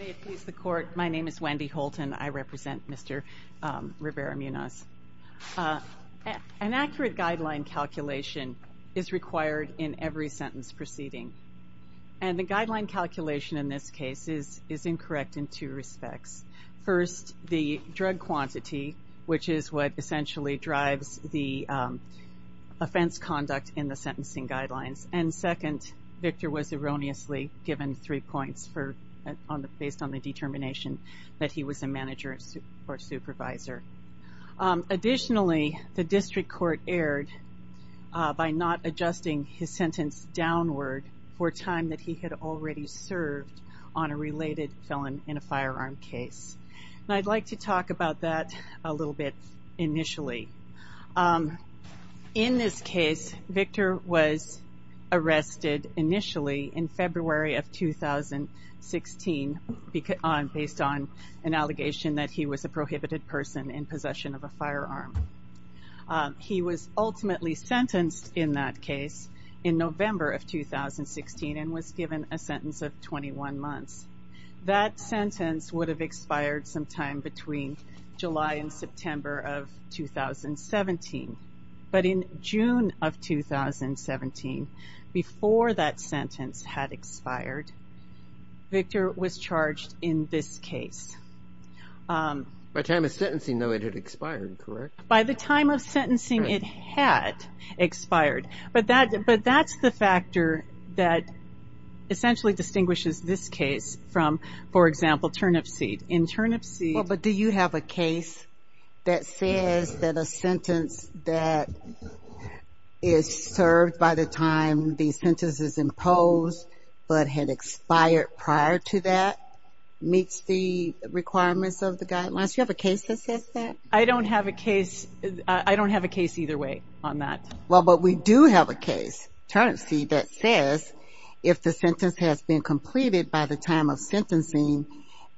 May it please the Court, my name is Wendy Holton. I represent Mr. Rivera-Munoz. An accurate guideline calculation is required in every sentence proceeding. And the guideline calculation in this case is incorrect in two respects. First, the drug quantity, which is what essentially drives the offense conduct in the sentencing guidelines. And second, Victor was erroneously given three points based on the determination that he was a manager or supervisor. Additionally, the District Court erred by not adjusting his sentence downward for time that he had already served on a related felon in a firearm case. And I'd like to talk about that a little bit initially. In this case, Victor was arrested initially in February of 2016 based on an allegation that he was a prohibited person in possession of a firearm. He was ultimately sentenced in that case in November of 2016 and was given a sentence of 21 months. That sentence would have expired sometime between July and September of 2017. But in June of 2017, before that sentence had expired, Victor was charged in this case. By time of sentencing, though, it had expired, correct? By the time of sentencing, it had expired. But that's the factor that essentially distinguishes this case from, for example, turnip seed. In turnip seed... Well, but do you have a case that says that a sentence that is served by the time the sentence is imposed but had expired prior to that meets the requirements of the guidelines? Do you have a case that says that? I don't have a case either way on that. Well, but we do have a case, turnip seed, that says if the sentence has been completed by the time of sentencing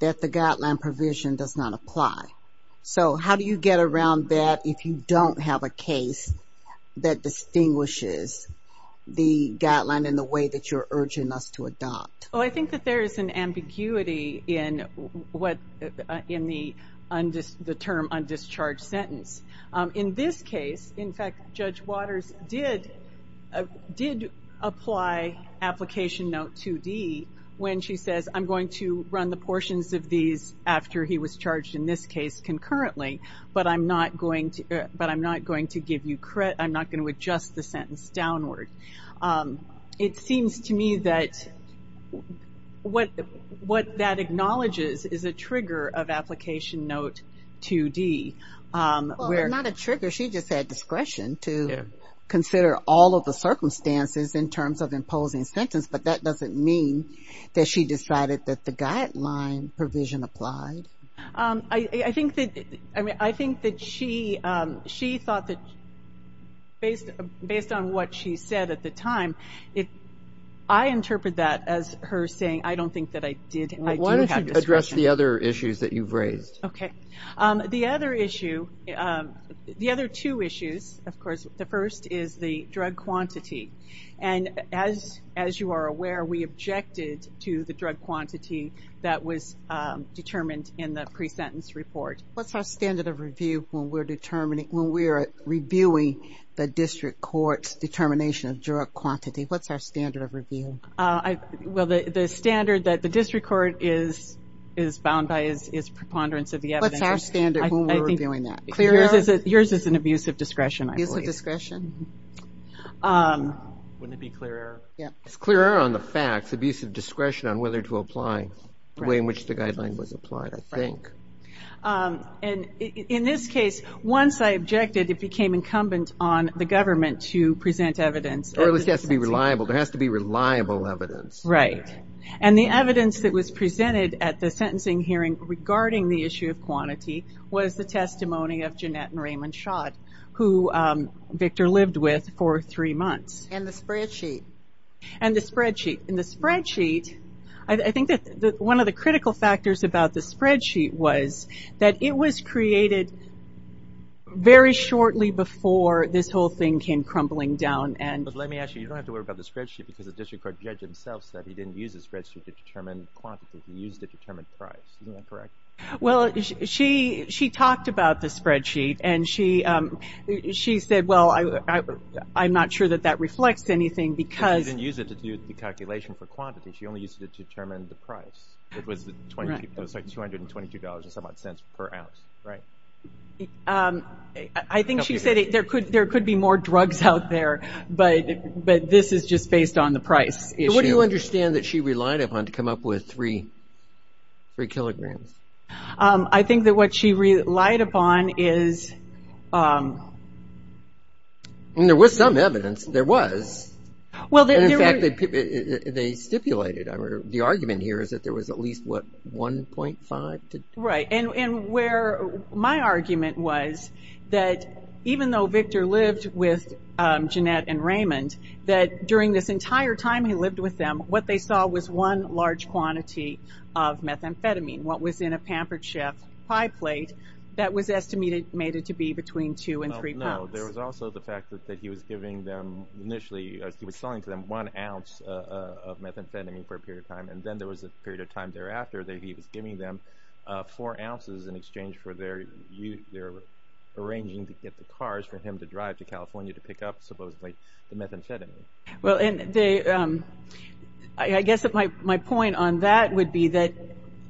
that the guideline provision does not apply. So how do you get around that if you don't have a case that distinguishes the guideline in the way that you're urging us to adopt? Oh, I think that there is an ambiguity in the term undischarged sentence. In this case, in fact, Judge Waters did apply application note 2D when she says, I'm going to run the portions of these after he was charged in this case concurrently, but I'm not going to give you credit. I'm not going to adjust the sentence downward. It seems to me that what that acknowledges is a trigger of application note 2D. Well, not a trigger. She just had discretion to consider all of the circumstances in terms of imposing sentence, but that doesn't mean that she decided that the guideline provision applied. I think that she thought that based on what she said at the time, if I interpret that as her saying I don't think that I did have discretion. Why don't you address the other issues that you've raised? Okay. The other issue, the other two issues, of course, the first is the drug quantity. As you are aware, we objected to the drug quantity that was determined in the pre-sentence report. What's our standard of review when we're reviewing the district court's determination of drug quantity? What's our standard of review? Well, the standard that the district court is bound by is preponderance of the evidence. What's our standard when we're reviewing that? Yours is an abuse of discretion, I believe. Abuse of discretion. Wouldn't it be clear error? It's clear error on the facts, abuse of discretion on whether to apply the way in which the guideline was applied, I think. In this case, once I objected, it became incumbent on the government to present evidence. Or at least it has to be reliable. There has to be reliable evidence. Right. And the evidence that was presented at the sentencing hearing regarding the issue of quantity was the testimony of Jeanette and Raymond Schott, who Victor lived with for three months. And the spreadsheet. And the spreadsheet. And the spreadsheet, I think that one of the critical factors about the spreadsheet was that it was created very shortly before this whole thing came crumbling down. But let me ask you, you don't have to worry about the spreadsheet because the district court judge himself said he didn't use the spreadsheet to determine quantity, he used it to determine price. Isn't that correct? Well, she talked about the spreadsheet, and she said, well, I'm not sure that that reflects anything because. She didn't use it to do the calculation for quantity. She only used it to determine the price. It was like $222 and some odd cents per ounce, right? I think she said there could be more drugs out there, but this is just based on the price issue. What do you understand that she relied upon to come up with three kilograms? I think that what she relied upon is. There was some evidence, there was. In fact, they stipulated, the argument here is that there was at least, what, 1.5 to. Right, and where my argument was that even though Victor lived with Jeanette and Raymond, that during this entire time he lived with them, what they saw was one large quantity of methamphetamine. What was in a Pampered Chef pie plate that was estimated to be between two and three pounds. No, there was also the fact that he was giving them initially, he was selling to them one ounce of methamphetamine for a period of time, and then there was a period of time thereafter that he was giving them four ounces in exchange for their youth, Well, I guess my point on that would be that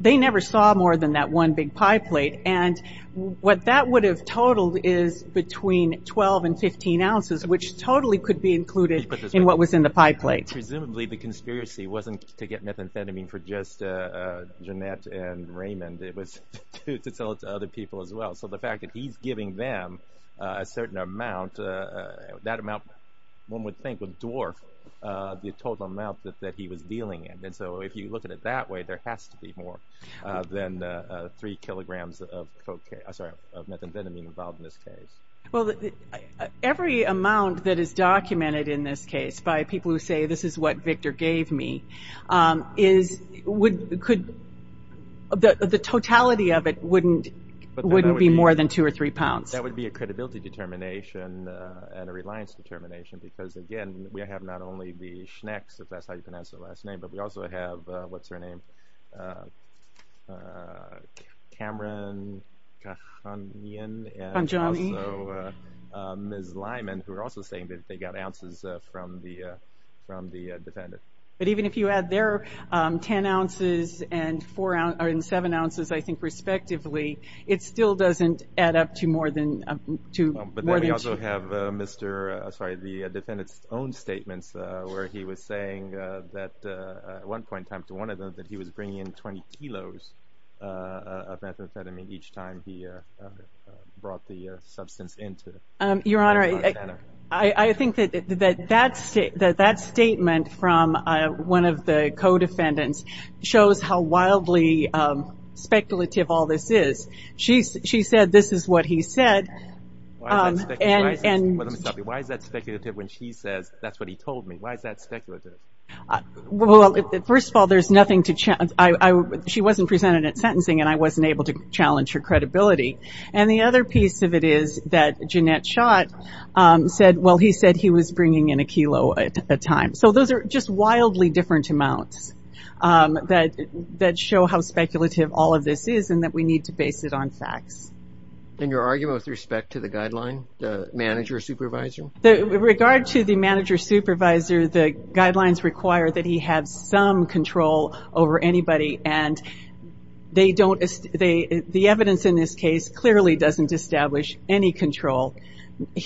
they never saw more than that one big pie plate, and what that would have totaled is between 12 and 15 ounces, which totally could be included in what was in the pie plate. Presumably the conspiracy wasn't to get methamphetamine for just Jeanette and Raymond, it was to sell it to other people as well. So the fact that he's giving them a certain amount, that amount one would think would dwarf the total amount that he was dealing in. And so if you look at it that way, there has to be more than three kilograms of methamphetamine involved in this case. Well, every amount that is documented in this case by people who say this is what Victor gave me, the totality of it wouldn't be more than two or three pounds. That would be a credibility determination and a reliance determination, because again, we have not only the Schnecks, if that's how you pronounce their last name, but we also have, what's her name, Cameron Kahnjani, and also Ms. Lyman, who are also saying that they got ounces from the defendant. But even if you add their 10 ounces and seven ounces, I think, respectively, it still doesn't add up to more than two. But then we also have the defendant's own statements where he was saying that at one point, time to one of them, that he was bringing in 20 kilos of methamphetamine each time he brought the substance into Montana. Your Honor, I think that that statement from one of the co-defendants shows how wildly speculative all this is. She said this is what he said. Why is that speculative? Let me stop you. Why is that speculative when she says that's what he told me? Why is that speculative? Well, first of all, there's nothing to challenge. She wasn't presented at sentencing, and I wasn't able to challenge her credibility. And the other piece of it is that Jeanette Schott said, well, he said he was bringing in a kilo at a time. So those are just wildly different amounts that show how speculative all of this is and that we need to base it on facts. And your argument with respect to the guideline, the manager-supervisor? With regard to the manager-supervisor, the guidelines require that he have some control over anybody, and the evidence in this case clearly doesn't establish any control.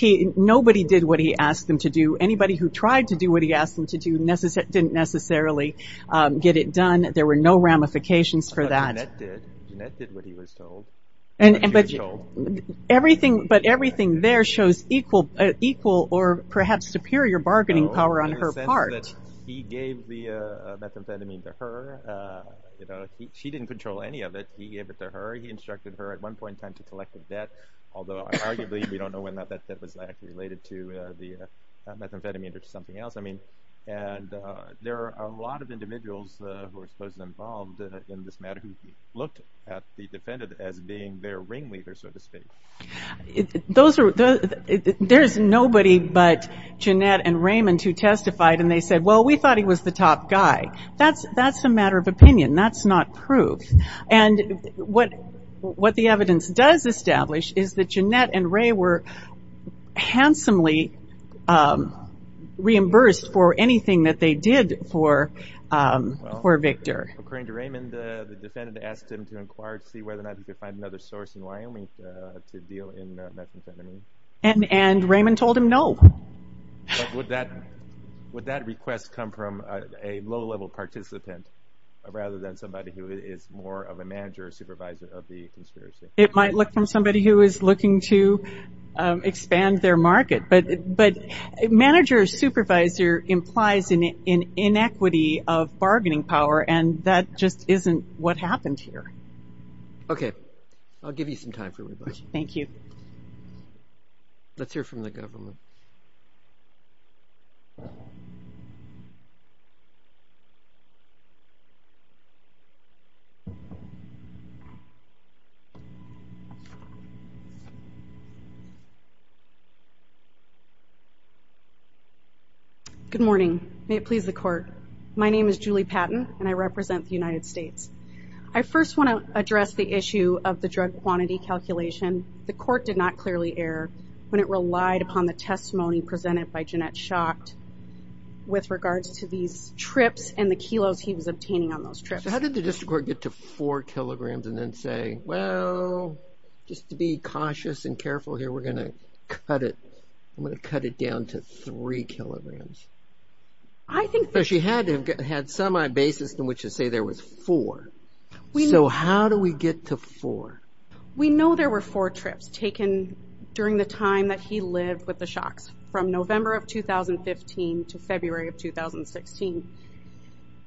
Nobody did what he asked them to do. Anybody who tried to do what he asked them to do didn't necessarily get it done. There were no ramifications for that. But Jeanette did. Jeanette did what he was told. But everything there shows equal or perhaps superior bargaining power on her part. He gave the methamphetamine to her. She didn't control any of it. He gave it to her. He instructed her at one point in time to collect the debt, although arguably we don't know whether that debt was actually related to the methamphetamine or to something else. And there are a lot of individuals who are supposedly involved in this matter who looked at the defendant as being their ringleader, so to speak. There's nobody but Jeanette and Raymond who testified, and they said, well, we thought he was the top guy. That's a matter of opinion. That's not proof. And what the evidence does establish is that Jeanette and Ray were handsomely reimbursed for anything that they did for Victor. According to Raymond, the defendant asked him to inquire to see whether or not he could find another source in Wyoming to deal in methamphetamine. And Raymond told him no. Would that request come from a low-level participant rather than somebody who is more of a manager or supervisor of the conspiracy? It might look from somebody who is looking to expand their market. But manager or supervisor implies an inequity of bargaining power, and that just isn't what happened here. Okay. I'll give you some time for rebuttal. Thank you. Let's hear from the government. Good morning. May it please the court. My name is Julie Patton, and I represent the United States. I first want to address the issue of the drug quantity calculation. The court did not clearly err when it relied upon the testimony presented by Jeanette Schacht with regards to these trips and the kilos he was obtaining on those trips. So how did the district court get to 4 kilograms and then say, well, just to be cautious and careful here, we're going to cut it down to 3 kilograms? She had semi-basis in which to say there was 4. So how do we get to 4? We know there were 4 trips taken during the time that he lived with the Schachts, from November of 2015 to February of 2016.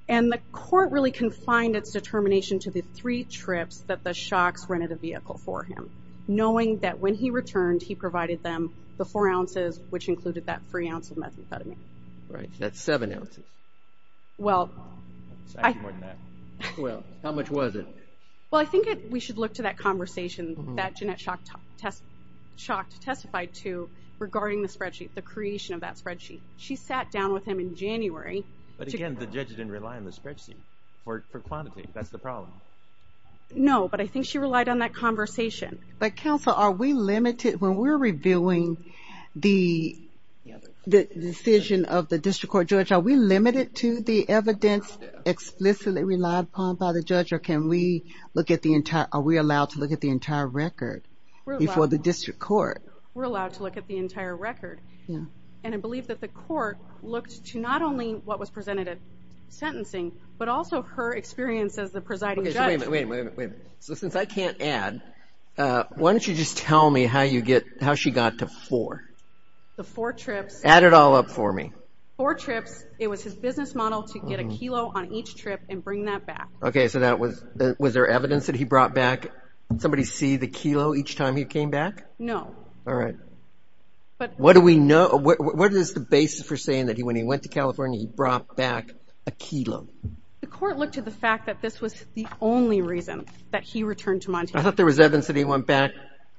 And the court really confined its determination to the 3 trips that the Schachts rented a vehicle for him, knowing that when he returned, he provided them the 4 ounces, which included that 3 ounce of methamphetamine. Right. That's 7 ounces. Well, I – Well, how much was it? Well, I think we should look to that conversation that Jeanette Schacht testified to regarding the spreadsheet, the creation of that spreadsheet. She sat down with him in January. But again, the judge didn't rely on the spreadsheet for quantity. That's the problem. No, but I think she relied on that conversation. But counsel, are we limited – when we're reviewing the decision of the district court judge, are we limited to the evidence explicitly relied upon by the judge, or can we look at the entire – are we allowed to look at the entire record before the district court? We're allowed to look at the entire record. Yeah. And I believe that the court looked to not only what was presented at sentencing, but also her experience as the presiding judge. Wait a minute, wait a minute, wait a minute. So since I can't add, why don't you just tell me how you get – how she got to 4? The 4 trips – Add it all up for me. 4 trips, it was his business model to get a kilo on each trip and bring that back. Okay, so that was – was there evidence that he brought back? Did somebody see the kilo each time he came back? No. All right. What do we know – what is the basis for saying that when he went to California, he brought back a kilo? The court looked to the fact that this was the only reason that he returned to Montana. I thought there was evidence that he went back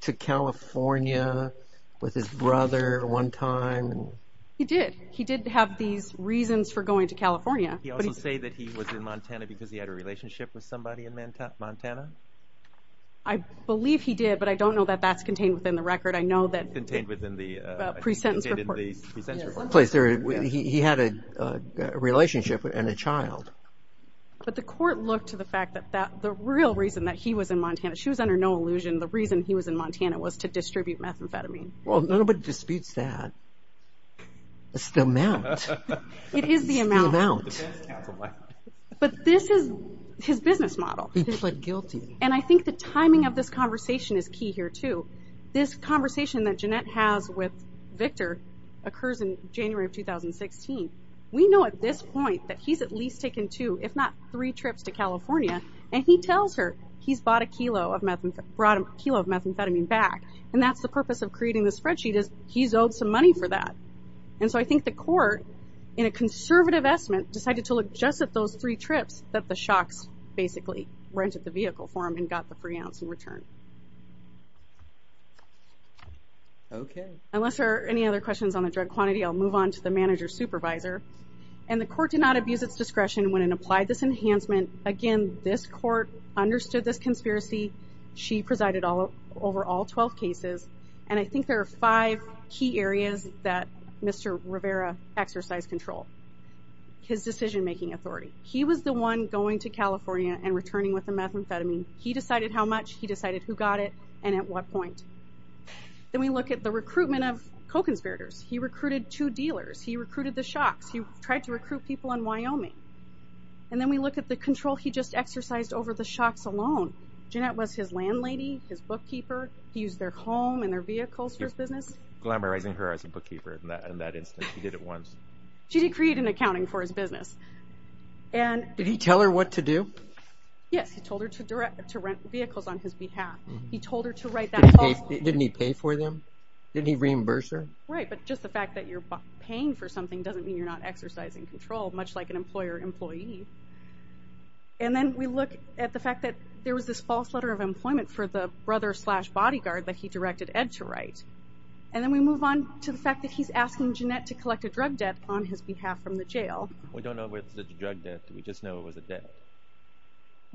to California with his brother one time. He did. He did have these reasons for going to California. Did he also say that he was in Montana because he had a relationship with somebody in Montana? I believe he did, but I don't know that that's contained within the record. I know that – Contained within the – Presentence report. Presentence report. He had a relationship and a child. But the court looked to the fact that the real reason that he was in Montana – she was under no illusion. The reason he was in Montana was to distribute methamphetamine. Well, nobody disputes that. It's the amount. It is the amount. It's the amount. But this is his business model. He pled guilty. And I think the timing of this conversation is key here, too. This conversation that Jeanette has with Victor occurs in January of 2016. We know at this point that he's at least taken two, if not three, trips to California. And he tells her he's brought a kilo of methamphetamine back. And that's the purpose of creating this spreadsheet is he's owed some money for that. And so I think the court, in a conservative estimate, decided to look just at those three trips that the Shocks basically rented the vehicle for him and got the free ounce in return. Okay. Unless there are any other questions on the drug quantity, I'll move on to the manager supervisor. And the court did not abuse its discretion when it applied this enhancement. Again, this court understood this conspiracy. She presided over all 12 cases. And I think there are five key areas that Mr. Rivera exercised control. His decision-making authority. He was the one going to California and returning with the methamphetamine. He decided how much. He decided who got it and at what point. Then we look at the recruitment of co-conspirators. He recruited two dealers. He recruited the Shocks. He tried to recruit people in Wyoming. And then we look at the control he just exercised over the Shocks alone. Jeanette was his landlady, his bookkeeper. He used their home and their vehicles for his business. Glamorizing her as a bookkeeper in that instance. She did it once. She did create an accounting for his business. Did he tell her what to do? Yes, he told her to rent vehicles on his behalf. He told her to write that off. Didn't he pay for them? Didn't he reimburse her? Right, but just the fact that you're paying for something doesn't mean you're not exercising control, much like an employer-employee. And then we look at the fact that there was this false letter of employment for the brother-slash-bodyguard that he directed Ed to write. And then we move on to the fact that he's asking Jeanette to collect a drug debt on his behalf from the jail. We don't know if it's a drug debt. We just know it was a debt.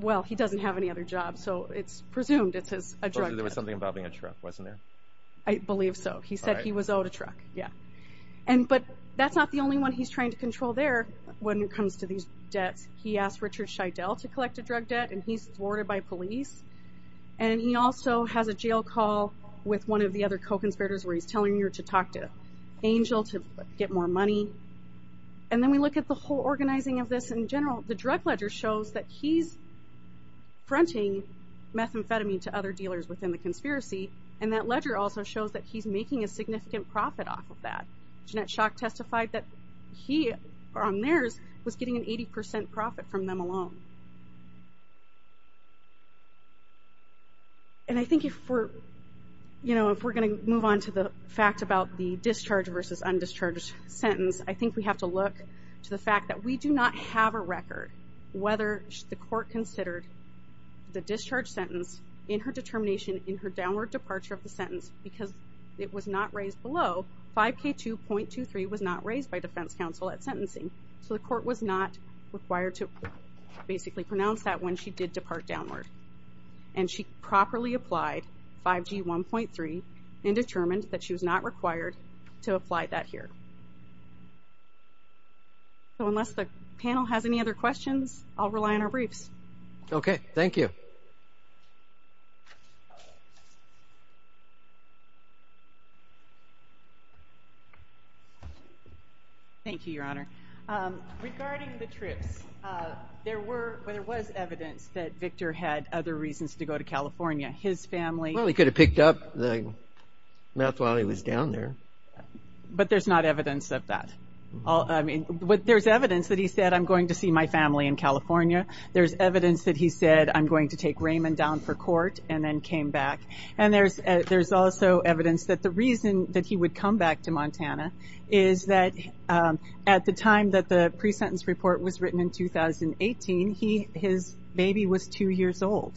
Well, he doesn't have any other job, so it's presumed it's a drug debt. But there was something involving a truck, wasn't there? I believe so. He said he was owed a truck, yeah. But that's not the only one he's trying to control there when it comes to these debts. He asked Richard Scheidel to collect a drug debt, and he's thwarted by police. And he also has a jail call with one of the other co-conspirators where he's telling her to talk to Angel to get more money. And then we look at the whole organizing of this in general. The drug ledger shows that he's fronting methamphetamine to other dealers within the conspiracy, and that ledger also shows that he's making a significant profit off of that. Jeanette Schock testified that he, on theirs, was getting an 80% profit from them alone. And I think if we're going to move on to the fact of the discharge versus undischarged sentence, I think we have to look to the fact that we do not have a record whether the court considered the discharge sentence in her determination in her downward departure of the sentence because it was not raised below 5K2.23 was not raised by defense counsel at sentencing. So the court was not required to basically pronounce that when she did depart downward. And she properly applied 5G1.3 and determined that she was not required to apply that here. So unless the panel has any other questions, I'll rely on our briefs. Okay. Thank you. Thank you, Your Honor. Regarding the trips, there was evidence that Victor had other reasons to go to California. His family... Well, he could have picked up the meth while he was down there. But there's not evidence of that. I mean, there's evidence that he said, I'm going to see my family in California. There's evidence that he said, I'm going to take Raymond down for court and then came back. And there's also evidence that the reason that he would come back to Montana is that at the time that the pre-sentence report was written in 2018, his baby was two years old.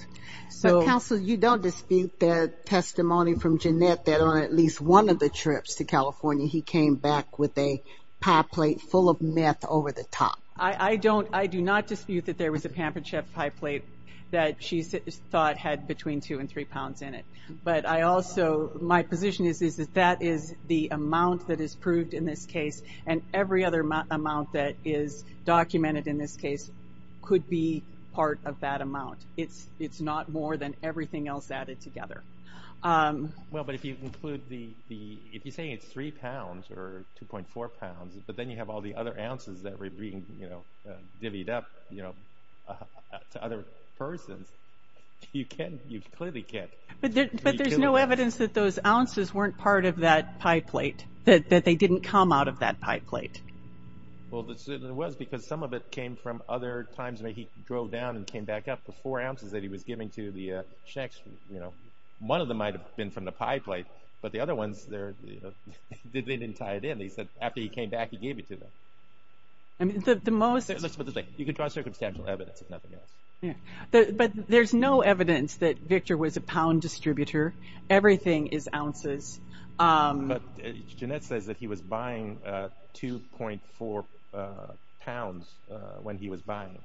Counsel, you don't dispute the testimony from Jeanette that on at least one of the trips to California, he came back with a pie plate full of meth over the top. I do not dispute that there was a Pampersheff pie plate that she thought had between 2 and 3 pounds in it. But I also... My position is that that is the amount that is proved in this case. And every other amount that is documented in this case could be part of that amount. It's not more than everything else added together. Well, but if you include the... If you say it's 3 pounds or 2.4 pounds, but then you have all the other ounces that were being divvied up to other persons, you clearly can't... But there's no evidence that those ounces weren't part of that pie plate, that they didn't come out of that pie plate. Well, it was because some of it came from other times when he drove down and came back up. The four ounces that he was giving to the checks, one of them might have been from the pie plate, but the other ones, they didn't tie it in. He said after he came back, he gave it to them. Let's put it this way. You can draw circumstantial evidence if nothing else. Everything is ounces. But Jeanette says that he was buying 2.4 pounds when he was buying.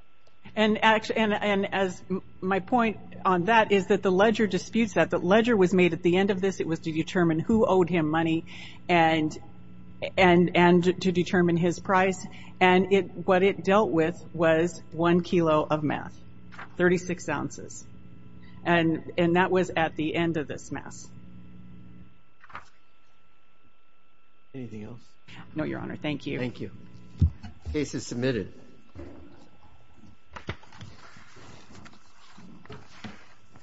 My point on that is that the ledger disputes that. The ledger was made at the end of this. It was to determine who owed him money and to determine his price. What it dealt with was one kilo of meth, 36 ounces. That was at the end of this meth. Anything else? No, Your Honor. Thank you. Thank you. Case is submitted.